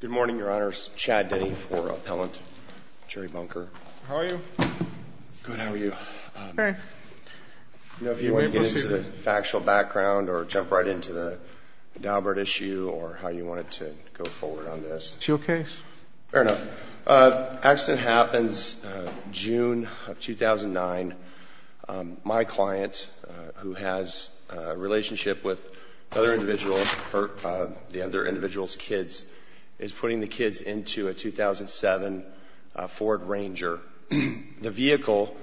Good morning, Your Honors. Chad Denny for Appellant Jerry Bunker. How are you? Good, how are you? Great. You know, if you want to get into the factual background or jump right into the Daubert issue or how you wanted to go forward on this. It's your case. Fair enough. The accident happens June of 2009. My client, who has a relationship with the other individual's kids, is putting the kids into a 2007 Ford Ranger. The vehicle,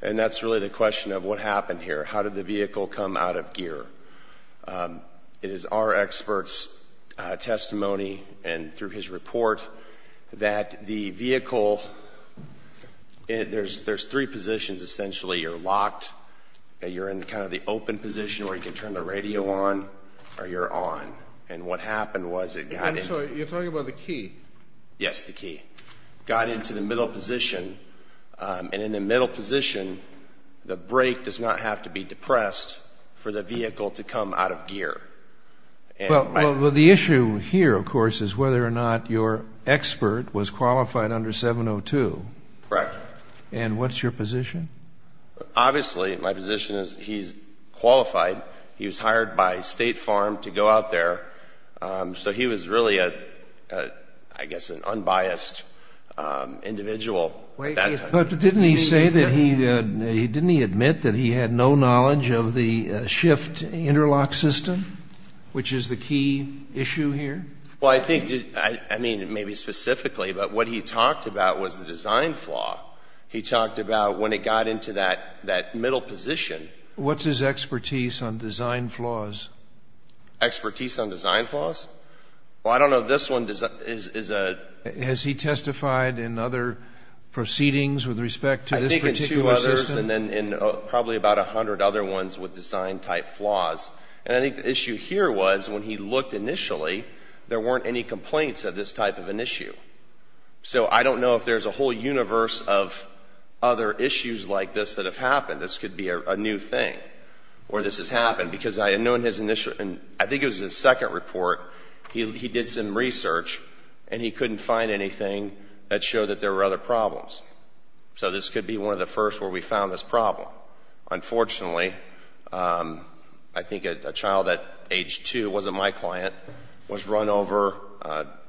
and that's really the question of what happened here. How did the vehicle come out of gear? It is our expert's testimony and through his report that the vehicle, there's three positions, essentially. You're locked, you're in kind of the open position where you can turn the radio on, or you're on. And what happened was it got into… I'm sorry, you're talking about the key. Yes, the key. …got into the middle position, and in the middle position, the brake does not have to be depressed for the vehicle to come out of gear. Well, the issue here, of course, is whether or not your expert was qualified under 702. Correct. And what's your position? Obviously, my position is he's qualified. He was hired by State Farm to go out there, so he was really, I guess, an unbiased individual at that time. But didn't he say that he, didn't he admit that he had no knowledge of the shift interlock system, which is the key issue here? Well, I think, I mean, maybe specifically, but what he talked about was the design flaw. He talked about when it got into that middle position… What's his expertise on design flaws? Expertise on design flaws? Well, I don't know if this one is a… Has he testified in other proceedings with respect to this particular system? I think in two others, and then in probably about 100 other ones with design-type flaws. And I think the issue here was when he looked initially, there weren't any complaints of this type of an issue. So I don't know if there's a whole universe of other issues like this that have happened. This could be a new thing where this has happened. Because I had known his initial, I think it was his second report, he did some research, and he couldn't find anything that showed that there were other problems. So this could be one of the first where we found this problem. Unfortunately, I think a child at age two, wasn't my client, was run over,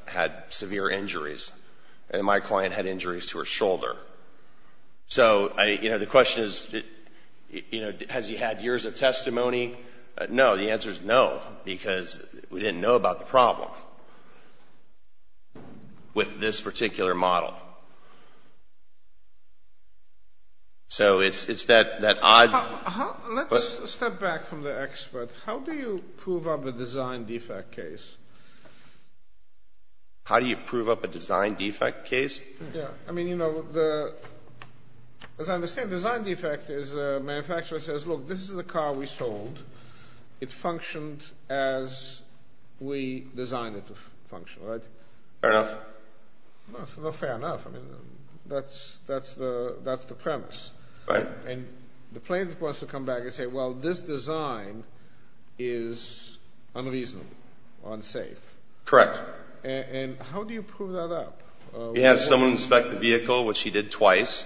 had severe injuries, and my client had injuries to her shoulder. So the question is, has he had years of testimony? No, the answer is no, because we didn't know about the problem with this particular model. So it's that odd… Let's step back from the expert. How do you prove up a design defect case? How do you prove up a design defect case? I mean, you know, as I understand, design defect is a manufacturer says, look, this is a car we sold. It functioned as we designed it to function, right? Fair enough. Fair enough, I mean, that's the premise. Right. And the plaintiff wants to come back and say, well, this design is unreasonable or unsafe. Correct. And how do you prove that up? You have someone inspect the vehicle, which he did twice.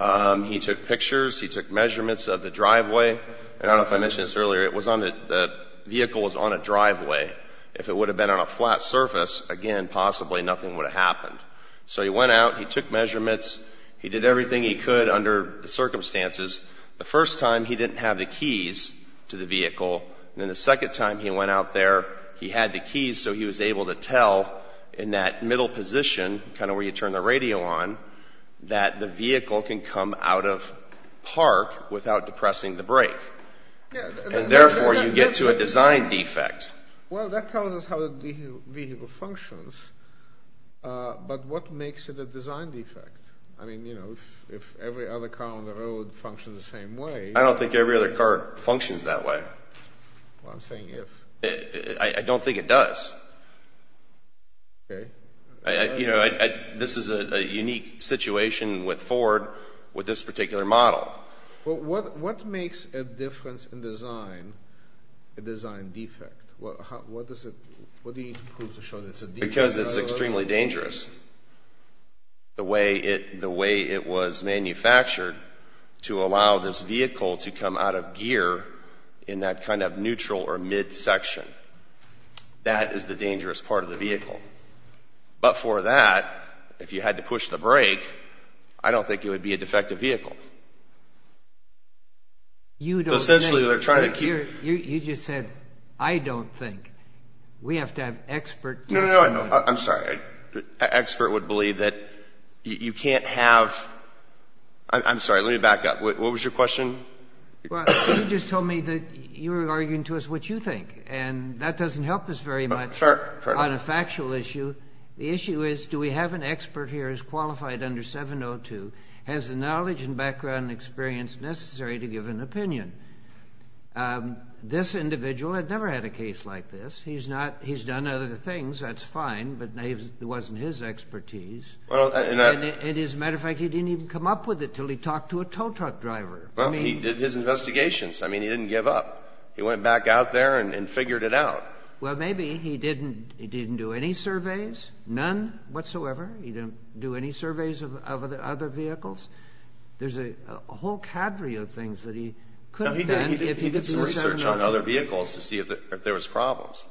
He took pictures. He took measurements of the driveway. And I don't know if I mentioned this earlier, it was on the vehicle was on a driveway. If it would have been on a flat surface, again, possibly nothing would have happened. So he went out. He took measurements. He did everything he could under the circumstances. The first time, he didn't have the keys to the vehicle. And then the second time he went out there, he had the keys, so he was able to tell in that middle position, kind of where you turn the radio on, that the vehicle can come out of park without depressing the brake. And therefore, you get to a design defect. Well, that tells us how the vehicle functions. But what makes it a design defect? I mean, you know, if every other car on the road functions the same way. I don't think every other car functions that way. Well, I'm saying if. I don't think it does. Okay. You know, this is a unique situation with Ford with this particular model. Well, what makes a difference in design a design defect? What do you prove to show that it's a defect? Because it's extremely dangerous. The way it was manufactured to allow this vehicle to come out of gear in that kind of neutral or mid section, that is the dangerous part of the vehicle. But for that, if you had to push the brake, I don't think it would be a defective vehicle. You don't think. Essentially, they're trying to keep. You just said, I don't think. We have to have expert. No, no, no. I'm sorry. An expert would believe that you can't have. I'm sorry. Let me back up. What was your question? You just told me that you were arguing to us what you think. And that doesn't help us very much on a factual issue. The issue is, do we have an expert here who's qualified under 702? Has the knowledge and background and experience necessary to give an opinion? This individual had never had a case like this. He's done other things. That's fine. But it wasn't his expertise. And as a matter of fact, he didn't even come up with it until he talked to a tow truck driver. Well, he did his investigations. I mean, he didn't give up. He went back out there and figured it out. Well, maybe he didn't do any surveys, none whatsoever. He didn't do any surveys of other vehicles. There's a whole cadre of things that he could have done if he did some research on other vehicles to see if there was problems.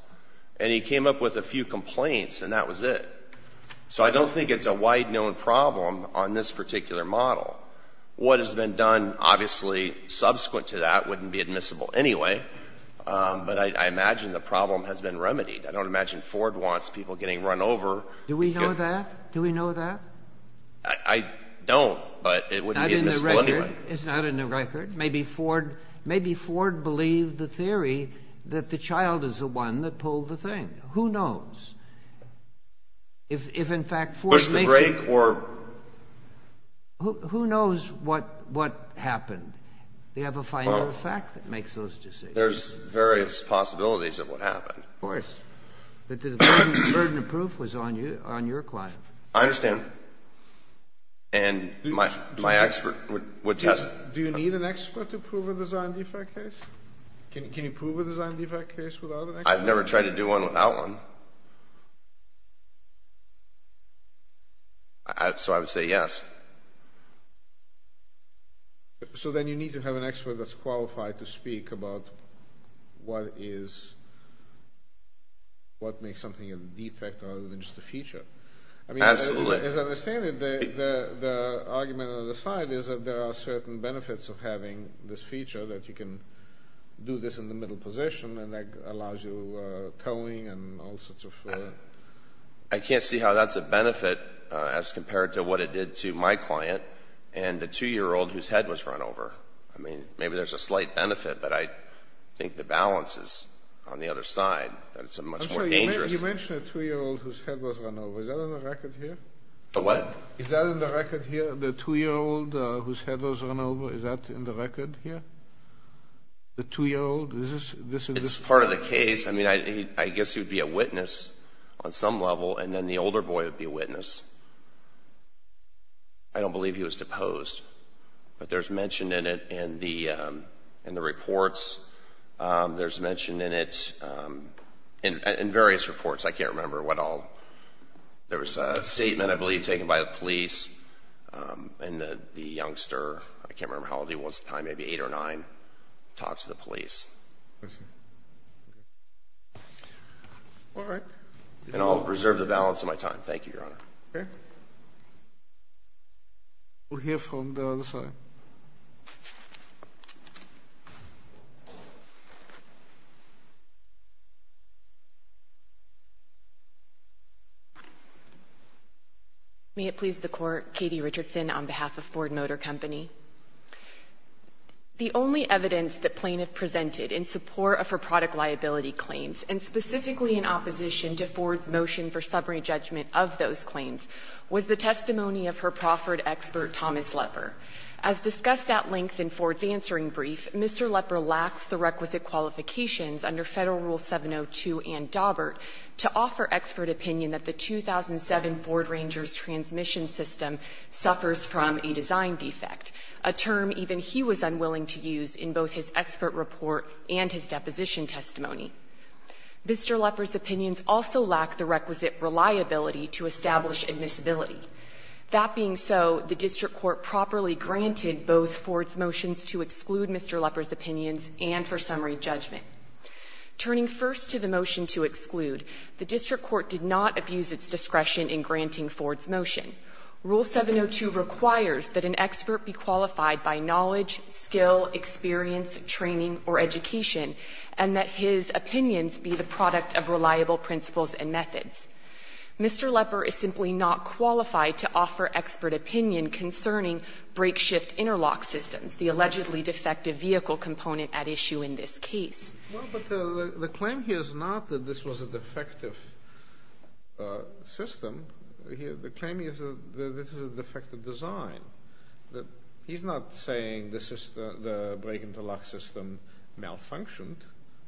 And he came up with a few complaints, and that was it. So I don't think it's a wide-known problem on this particular model. What has been done, obviously, subsequent to that wouldn't be admissible anyway. But I imagine the problem has been remedied. I don't imagine Ford wants people getting run over. Do we know that? Do we know that? I don't, but it wouldn't be admissible anyway. Not in the record. It's not in the record. Maybe Ford believed the theory that the child is the one that pulled the thing. Who knows? If, in fact, Ford made it? Push the brake or? Who knows what happened? Do you have a final fact that makes those decisions? There's various possibilities of what happened. Of course. But the burden of proof was on your client. I understand. And my expert would test. Do you need an expert to prove a design defect case? Can you prove a design defect case without an expert? I've never tried to do one without one. So I would say yes. So then you need to have an expert that's qualified to speak about what makes something a defect rather than just a feature. Absolutely. As I understand it, the argument on the side is that there are certain benefits of having this feature, that you can do this in the middle position and that allows you towing and all sorts of. I can't see how that's a benefit as compared to what it did to my client and the 2-year-old whose head was run over. I mean, maybe there's a slight benefit, but I think the balance is on the other side, that it's a much more dangerous. You mentioned a 2-year-old whose head was run over. Is that on the record here? What? Is that on the record here, the 2-year-old whose head was run over? Is that on the record here, the 2-year-old? It's part of the case. I mean, I guess he would be a witness on some level, and then the older boy would be a witness. I don't believe he was deposed, but there's mention in it in the reports. There's mention in it in various reports. I can't remember what all. There was a statement, I believe, taken by the police, and the youngster, I can't remember how old he was at the time, maybe 8 or 9, talked to the police. I see. All right. And I'll reserve the balance of my time. Thank you, Your Honor. Okay. We'll hear from the other side. May it please the Court. Katie Richardson on behalf of Ford Motor Company. The only evidence that plaintiff presented in support of her product liability claims, and specifically in opposition to Ford's motion for summary judgment of those claims, was the testimony of her proffered expert, Thomas Lepper. As discussed at length in Ford's answering brief, Mr. Lepper lacks the requisite qualifications under Federal Rule 702 and Daubert to offer expert opinion that the 2007 Ford Rangers transmission system suffers from a design defect, a term even he was unwilling to use in both his expert report and his deposition testimony. Mr. Lepper's opinions also lack the requisite reliability to establish admissibility. That being so, the district court properly granted both Ford's motions to exclude Mr. Lepper's opinions and for summary judgment. Turning first to the motion to exclude, the district court did not abuse its discretion in granting Ford's motion. Rule 702 requires that an expert be qualified by knowledge, skill, experience, training, or education, and that his opinions be the product of reliable principles and methods. Mr. Lepper is simply not qualified to offer expert opinion concerning brake shift interlock systems, the allegedly defective vehicle component at issue in this case. Well, but the claim here is not that this was a defective system. The claim is that this is a defective design. He's not saying the system, the brake interlock system, malfunctioned.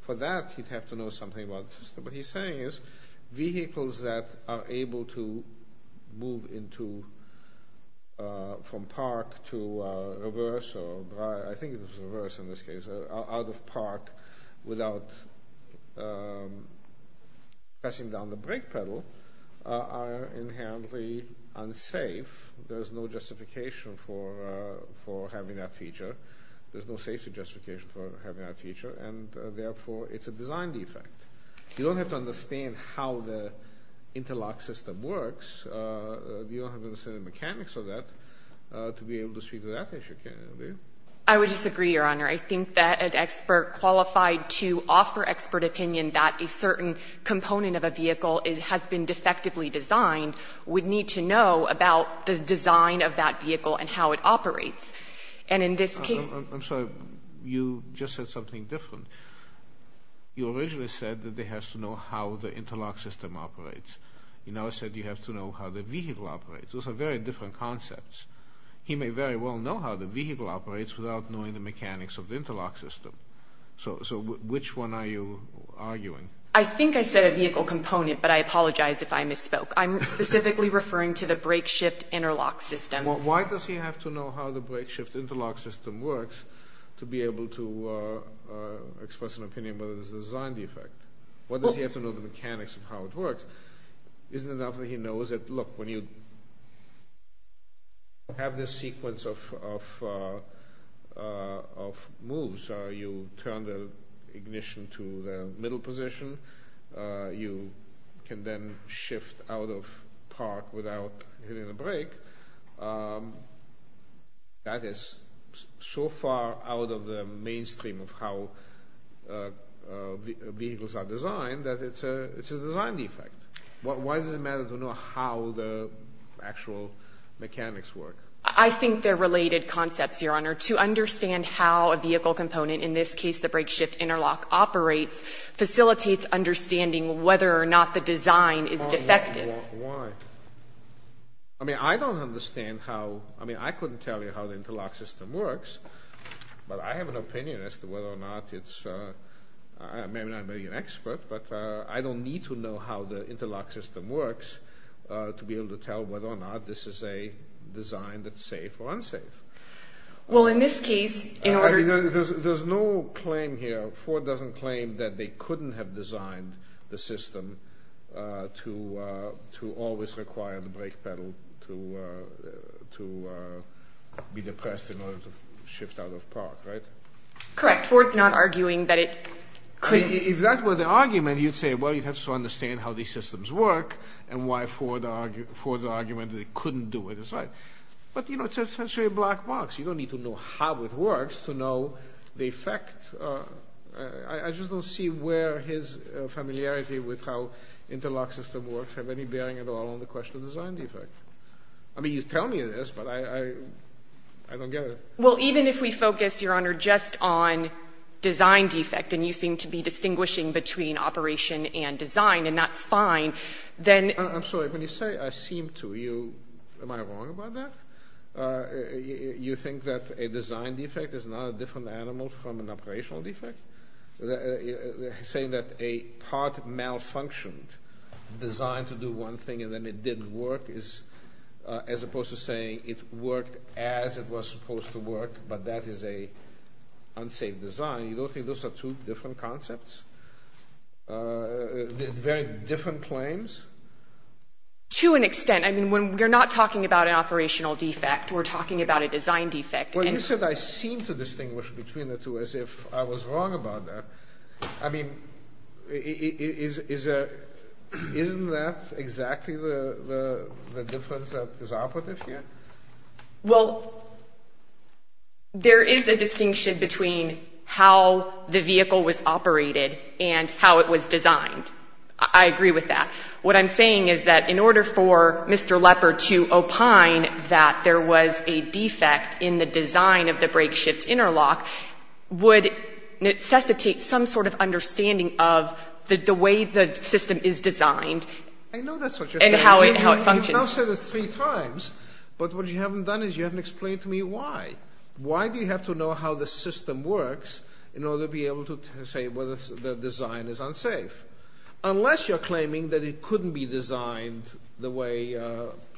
For that, he'd have to know something about the system. What he's saying is vehicles that are able to move from park to reverse, or I think it was reverse in this case, out of park without pressing down the brake pedal are inherently unsafe. There's no justification for having that feature. There's no safety justification for having that feature, and, therefore, it's a design defect. You don't have to understand how the interlock system works. You don't have to understand the mechanics of that to be able to speak to that issue, do you? I would disagree, Your Honor. I think that an expert qualified to offer expert opinion that a certain component of a vehicle has been defectively designed would need to know about the design of that vehicle and how it operates. And in this case ---- I'm sorry. You just said something different. You originally said that they have to know how the interlock system operates. You now said you have to know how the vehicle operates. Those are very different concepts. He may very well know how the vehicle operates without knowing the mechanics of the interlock system. So which one are you arguing? I think I said a vehicle component, but I apologize if I misspoke. I'm specifically referring to the brake shift interlock system. Why does he have to know how the brake shift interlock system works to be able to express an opinion about whether it's a design defect? Why does he have to know the mechanics of how it works? Isn't it enough that he knows that, look, when you have this sequence of moves, you turn the ignition to the middle position. You can then shift out of park without hitting the brake. That is so far out of the mainstream of how vehicles are designed that it's a design defect. Why does it matter to know how the actual mechanics work? I think they're related concepts, Your Honor. To understand how a vehicle component, in this case the brake shift interlock operates, facilitates understanding whether or not the design is defective. Why? I mean, I don't understand how – I mean, I couldn't tell you how the interlock system works, but I have an opinion as to whether or not it's – I may not be an expert, but I don't need to know how the interlock system works to be able to tell whether or not this is a design that's safe or unsafe. Well, in this case – There's no claim here – Ford doesn't claim that they couldn't have designed the system to always require the brake pedal to be depressed in order to shift out of park, right? Correct. Ford's not arguing that it couldn't. If that were the argument, you'd say, well, you'd have to understand how these systems work and why Ford's argument that they couldn't do it is right. But, you know, it's essentially a black box. You don't need to know how it works to know the effect. I just don't see where his familiarity with how interlock systems work have any bearing at all on the question of design defect. I mean, you tell me this, but I don't get it. Well, even if we focus, Your Honor, just on design defect, and you seem to be distinguishing between operation and design, and that's fine, then – You think that a design defect is not a different animal from an operational defect? Saying that a part malfunctioned designed to do one thing and then it didn't work is – as opposed to saying it worked as it was supposed to work, but that is an unsafe design. You don't think those are two different concepts? Very different claims? To an extent. I mean, we're not talking about an operational defect. We're talking about a design defect. Well, you said I seem to distinguish between the two as if I was wrong about that. I mean, isn't that exactly the difference that is operative here? Well, there is a distinction between how the vehicle was operated and how it was designed. I agree with that. What I'm saying is that in order for Mr. Lepper to opine that there was a defect in the design of the brake-shift interlock would necessitate some sort of understanding of the way the system is designed and how it functions. I know that's what you're saying. You've now said it three times, but what you haven't done is you haven't explained to me why. Why do you have to know how the system works in order to be able to say whether the design is unsafe? Unless you're claiming that it couldn't be designed the way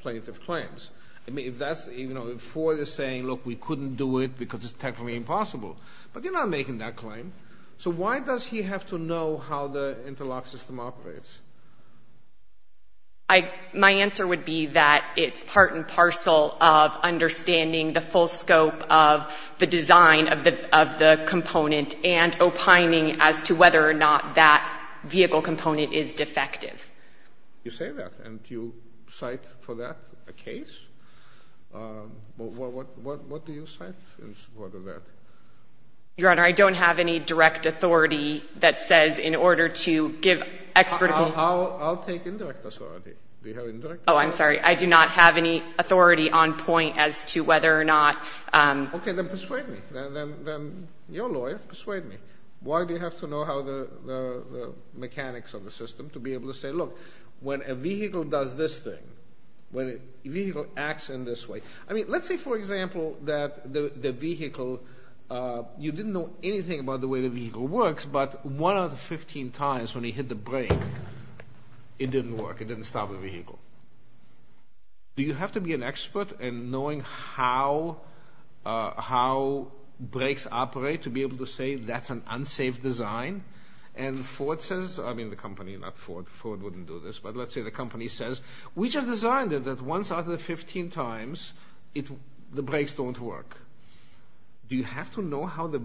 plaintiff claims. I mean, if that's, you know, if Ford is saying, look, we couldn't do it because it's technically impossible. But you're not making that claim. So why does he have to know how the interlock system operates? My answer would be that it's part and parcel of understanding the full scope of the design of the component and opining as to whether or not that vehicle component is defective. You say that, and you cite for that a case? What do you cite in support of that? Your Honor, I don't have any direct authority that says in order to give expert opinion. I'll take indirect authority. Do you have indirect authority? Oh, I'm sorry. I do not have any authority on point as to whether or not. Okay, then persuade me. Then your lawyer, persuade me. Why do you have to know how the mechanics of the system to be able to say, look, when a vehicle does this thing, when a vehicle acts in this way. I mean, let's say, for example, that the vehicle, you didn't know anything about the way the vehicle works, but one out of 15 times when he hit the brake, it didn't work. It didn't stop the vehicle. Do you have to be an expert in knowing how brakes operate to be able to say that's an unsafe design? And Ford says, I mean the company, not Ford, Ford wouldn't do this, but let's say the company says, we just designed it that once out of the 15 times, the brakes don't work. Do you have to know how the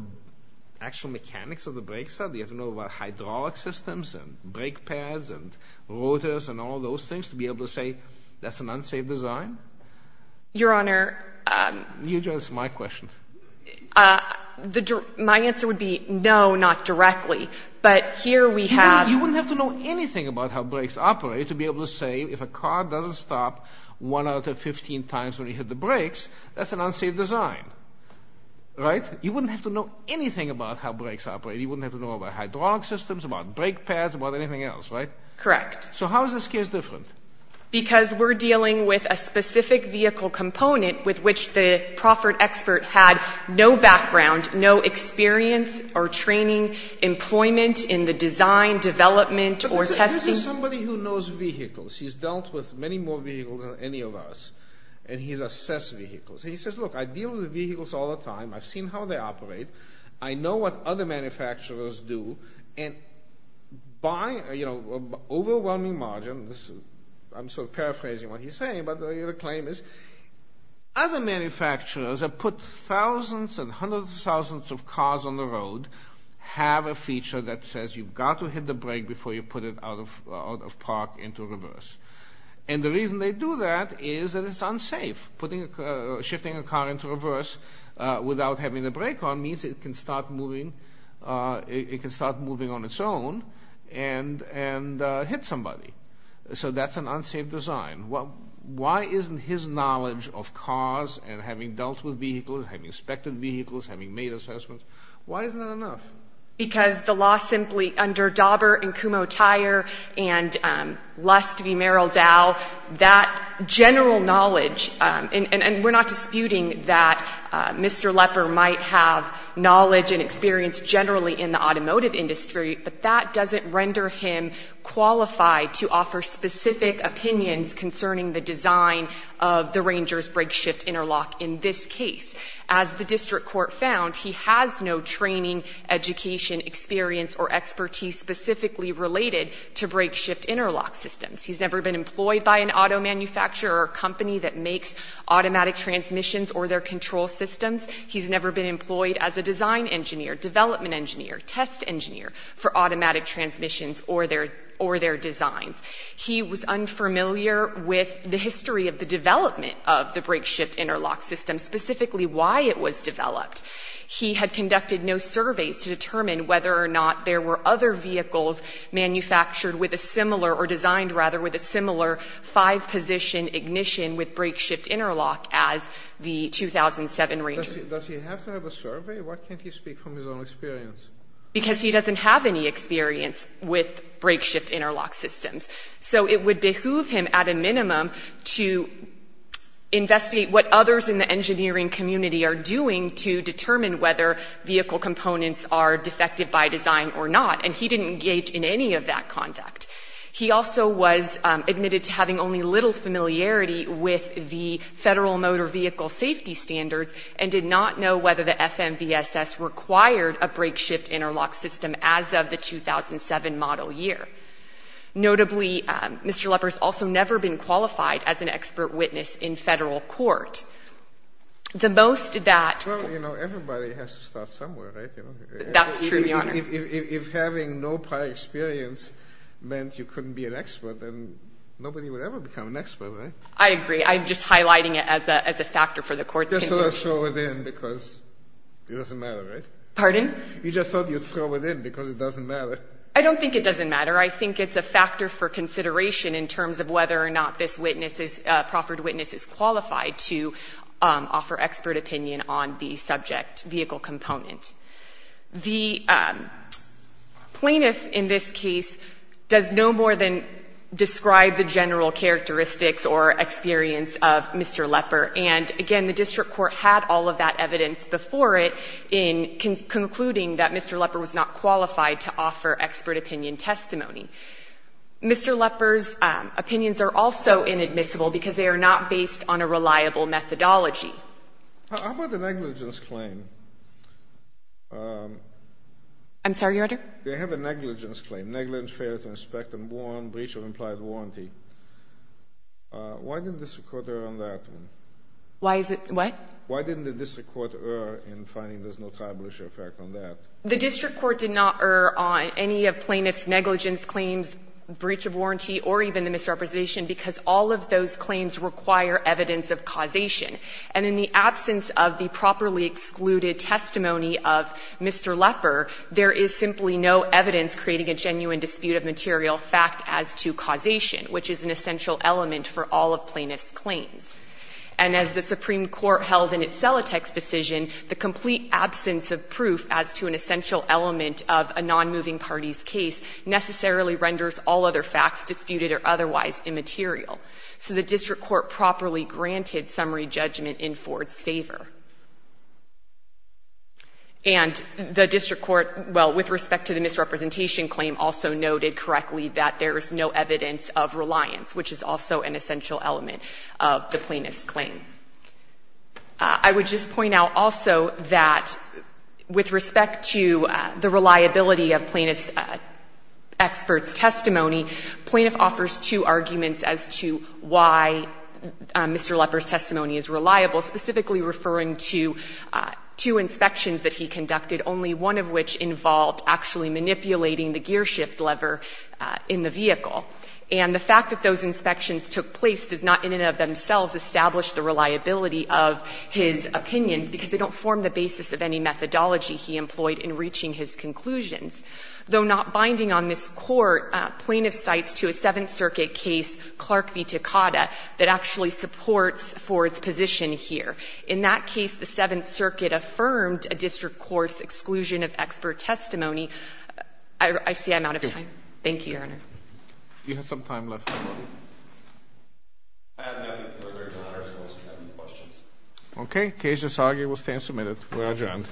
actual mechanics of the brakes are? Do you have to know about hydraulic systems and brake pads and rotors and all those things to be able to say that's an unsafe design? Your Honor. You just answered my question. My answer would be no, not directly. But here we have. You wouldn't have to know anything about how brakes operate to be able to say if a car doesn't stop one out of 15 times when you hit the brakes, that's an unsafe design. Right? You wouldn't have to know anything about how brakes operate. You wouldn't have to know about hydraulic systems, about brake pads, about anything else. Right? Correct. So how is this case different? Because we're dealing with a specific vehicle component with which the Crawford expert had no background, no experience or training, employment in the design, development, or testing. This is somebody who knows vehicles. He's dealt with many more vehicles than any of us, and he's assessed vehicles. He says, look, I deal with vehicles all the time. I've seen how they operate. I know what other manufacturers do. And by, you know, overwhelming margin, I'm sort of paraphrasing what he's saying, but the claim is other manufacturers have put thousands and hundreds of thousands of cars on the road, have a feature that says you've got to hit the brake before you put it out of park into reverse. And the reason they do that is that it's unsafe. Shifting a car into reverse without having the brake on means it can start moving on its own and hit somebody. So that's an unsafe design. Why isn't his knowledge of cars and having dealt with vehicles, having inspected vehicles, having made assessments, why isn't that enough? Because the law simply under Dauber and Kumho Tire and Lust v. Merrill Dow, that general knowledge, and we're not disputing that Mr. Lepper might have knowledge and experience generally in the automotive industry, but that doesn't render him qualified to offer specific opinions concerning the design of the Ranger's brake shift interlock in this case. As the district court found, he has no training, education, experience, or expertise specifically related to brake shift interlock systems. He's never been employed by an auto manufacturer or a company that makes automatic transmissions or their control systems. He's never been employed as a design engineer, development engineer, test engineer for automatic transmissions or their designs. He was unfamiliar with the history of the development of the brake shift interlock system, specifically why it was developed. He had conducted no surveys to determine whether or not there were other vehicles manufactured with a similar or designed, rather, with a similar five-position ignition with brake shift interlock as the 2007 Ranger. Does he have to have a survey? Why can't he speak from his own experience? Because he doesn't have any experience with brake shift interlock systems. So it would behoove him, at a minimum, to investigate what others in the engineering community are doing to determine whether vehicle components are defective by design or not, and he didn't engage in any of that conduct. He also was admitted to having only little familiarity with the federal motor vehicle safety standards and did not know whether the FMVSS required a brake shift interlock system as of the 2007 model year. Notably, Mr. Lepper has also never been qualified as an expert witness in federal court. The most that — Well, you know, everybody has to start somewhere, right? That's true, Your Honor. If having no prior experience meant you couldn't be an expert, then nobody would ever become an expert, right? I agree. I'm just highlighting it as a factor for the court's consideration. You just thought I'd throw it in because it doesn't matter, right? Pardon? You just thought you'd throw it in because it doesn't matter. I don't think it doesn't matter. I think it's a factor for consideration in terms of whether or not this witness is — proffered witness is qualified to offer expert opinion on the subject vehicle component. The plaintiff in this case does no more than describe the general characteristics or experience of Mr. Lepper. And again, the district court had all of that evidence before it in concluding that Mr. Lepper was not qualified to offer expert opinion testimony. Mr. Lepper's opinions are also inadmissible because they are not based on a reliable methodology. How about the negligence claim? I'm sorry, Your Honor? They have a negligence claim, negligence, failure to inspect and warrant breach of implied warranty. Why didn't the district court err on that one? Why is it — what? Why didn't the district court err in finding there's no tribal issue effect on that? The district court did not err on any of plaintiff's negligence claims, breach of warranty, or even the misrepresentation, because all of those claims require evidence of causation. And in the absence of the properly excluded testimony of Mr. Lepper, there is simply no evidence creating a genuine dispute of material fact as to causation, which is an essential element for all of plaintiff's claims. And as the Supreme Court held in its Celotex decision, the complete absence of proof as to an essential element of a nonmoving party's case necessarily renders all other facts disputed or otherwise immaterial. So the district court properly granted summary judgment in Ford's favor. And the district court, well, with respect to the misrepresentation claim, also noted correctly that there's no evidence of reliance, which is also an essential element of the plaintiff's claim. I would just point out also that with respect to the reliability of plaintiff's expert's testimony, plaintiff offers two arguments as to why Mr. Lepper's testimony is reliable, specifically referring to two inspections that he conducted, only one of which involved actually manipulating the gear shift lever in the vehicle. And the fact that those inspections took place does not in and of themselves establish the reliability of his opinions, because they don't form the basis of any methodology he employed in reaching his conclusions. Though not binding on this Court, plaintiff cites to a Seventh Circuit case Clark v. Takada that actually supports Ford's position here. In that case, the Seventh Circuit affirmed a district court's exclusion of expert testimony. I see I'm out of time. Thank you, Your Honor. Roberts. You have some time left. I have nothing further to add, Your Honor, unless you have any questions. Okay. The case is argued. We'll stand submitted. We're adjourned.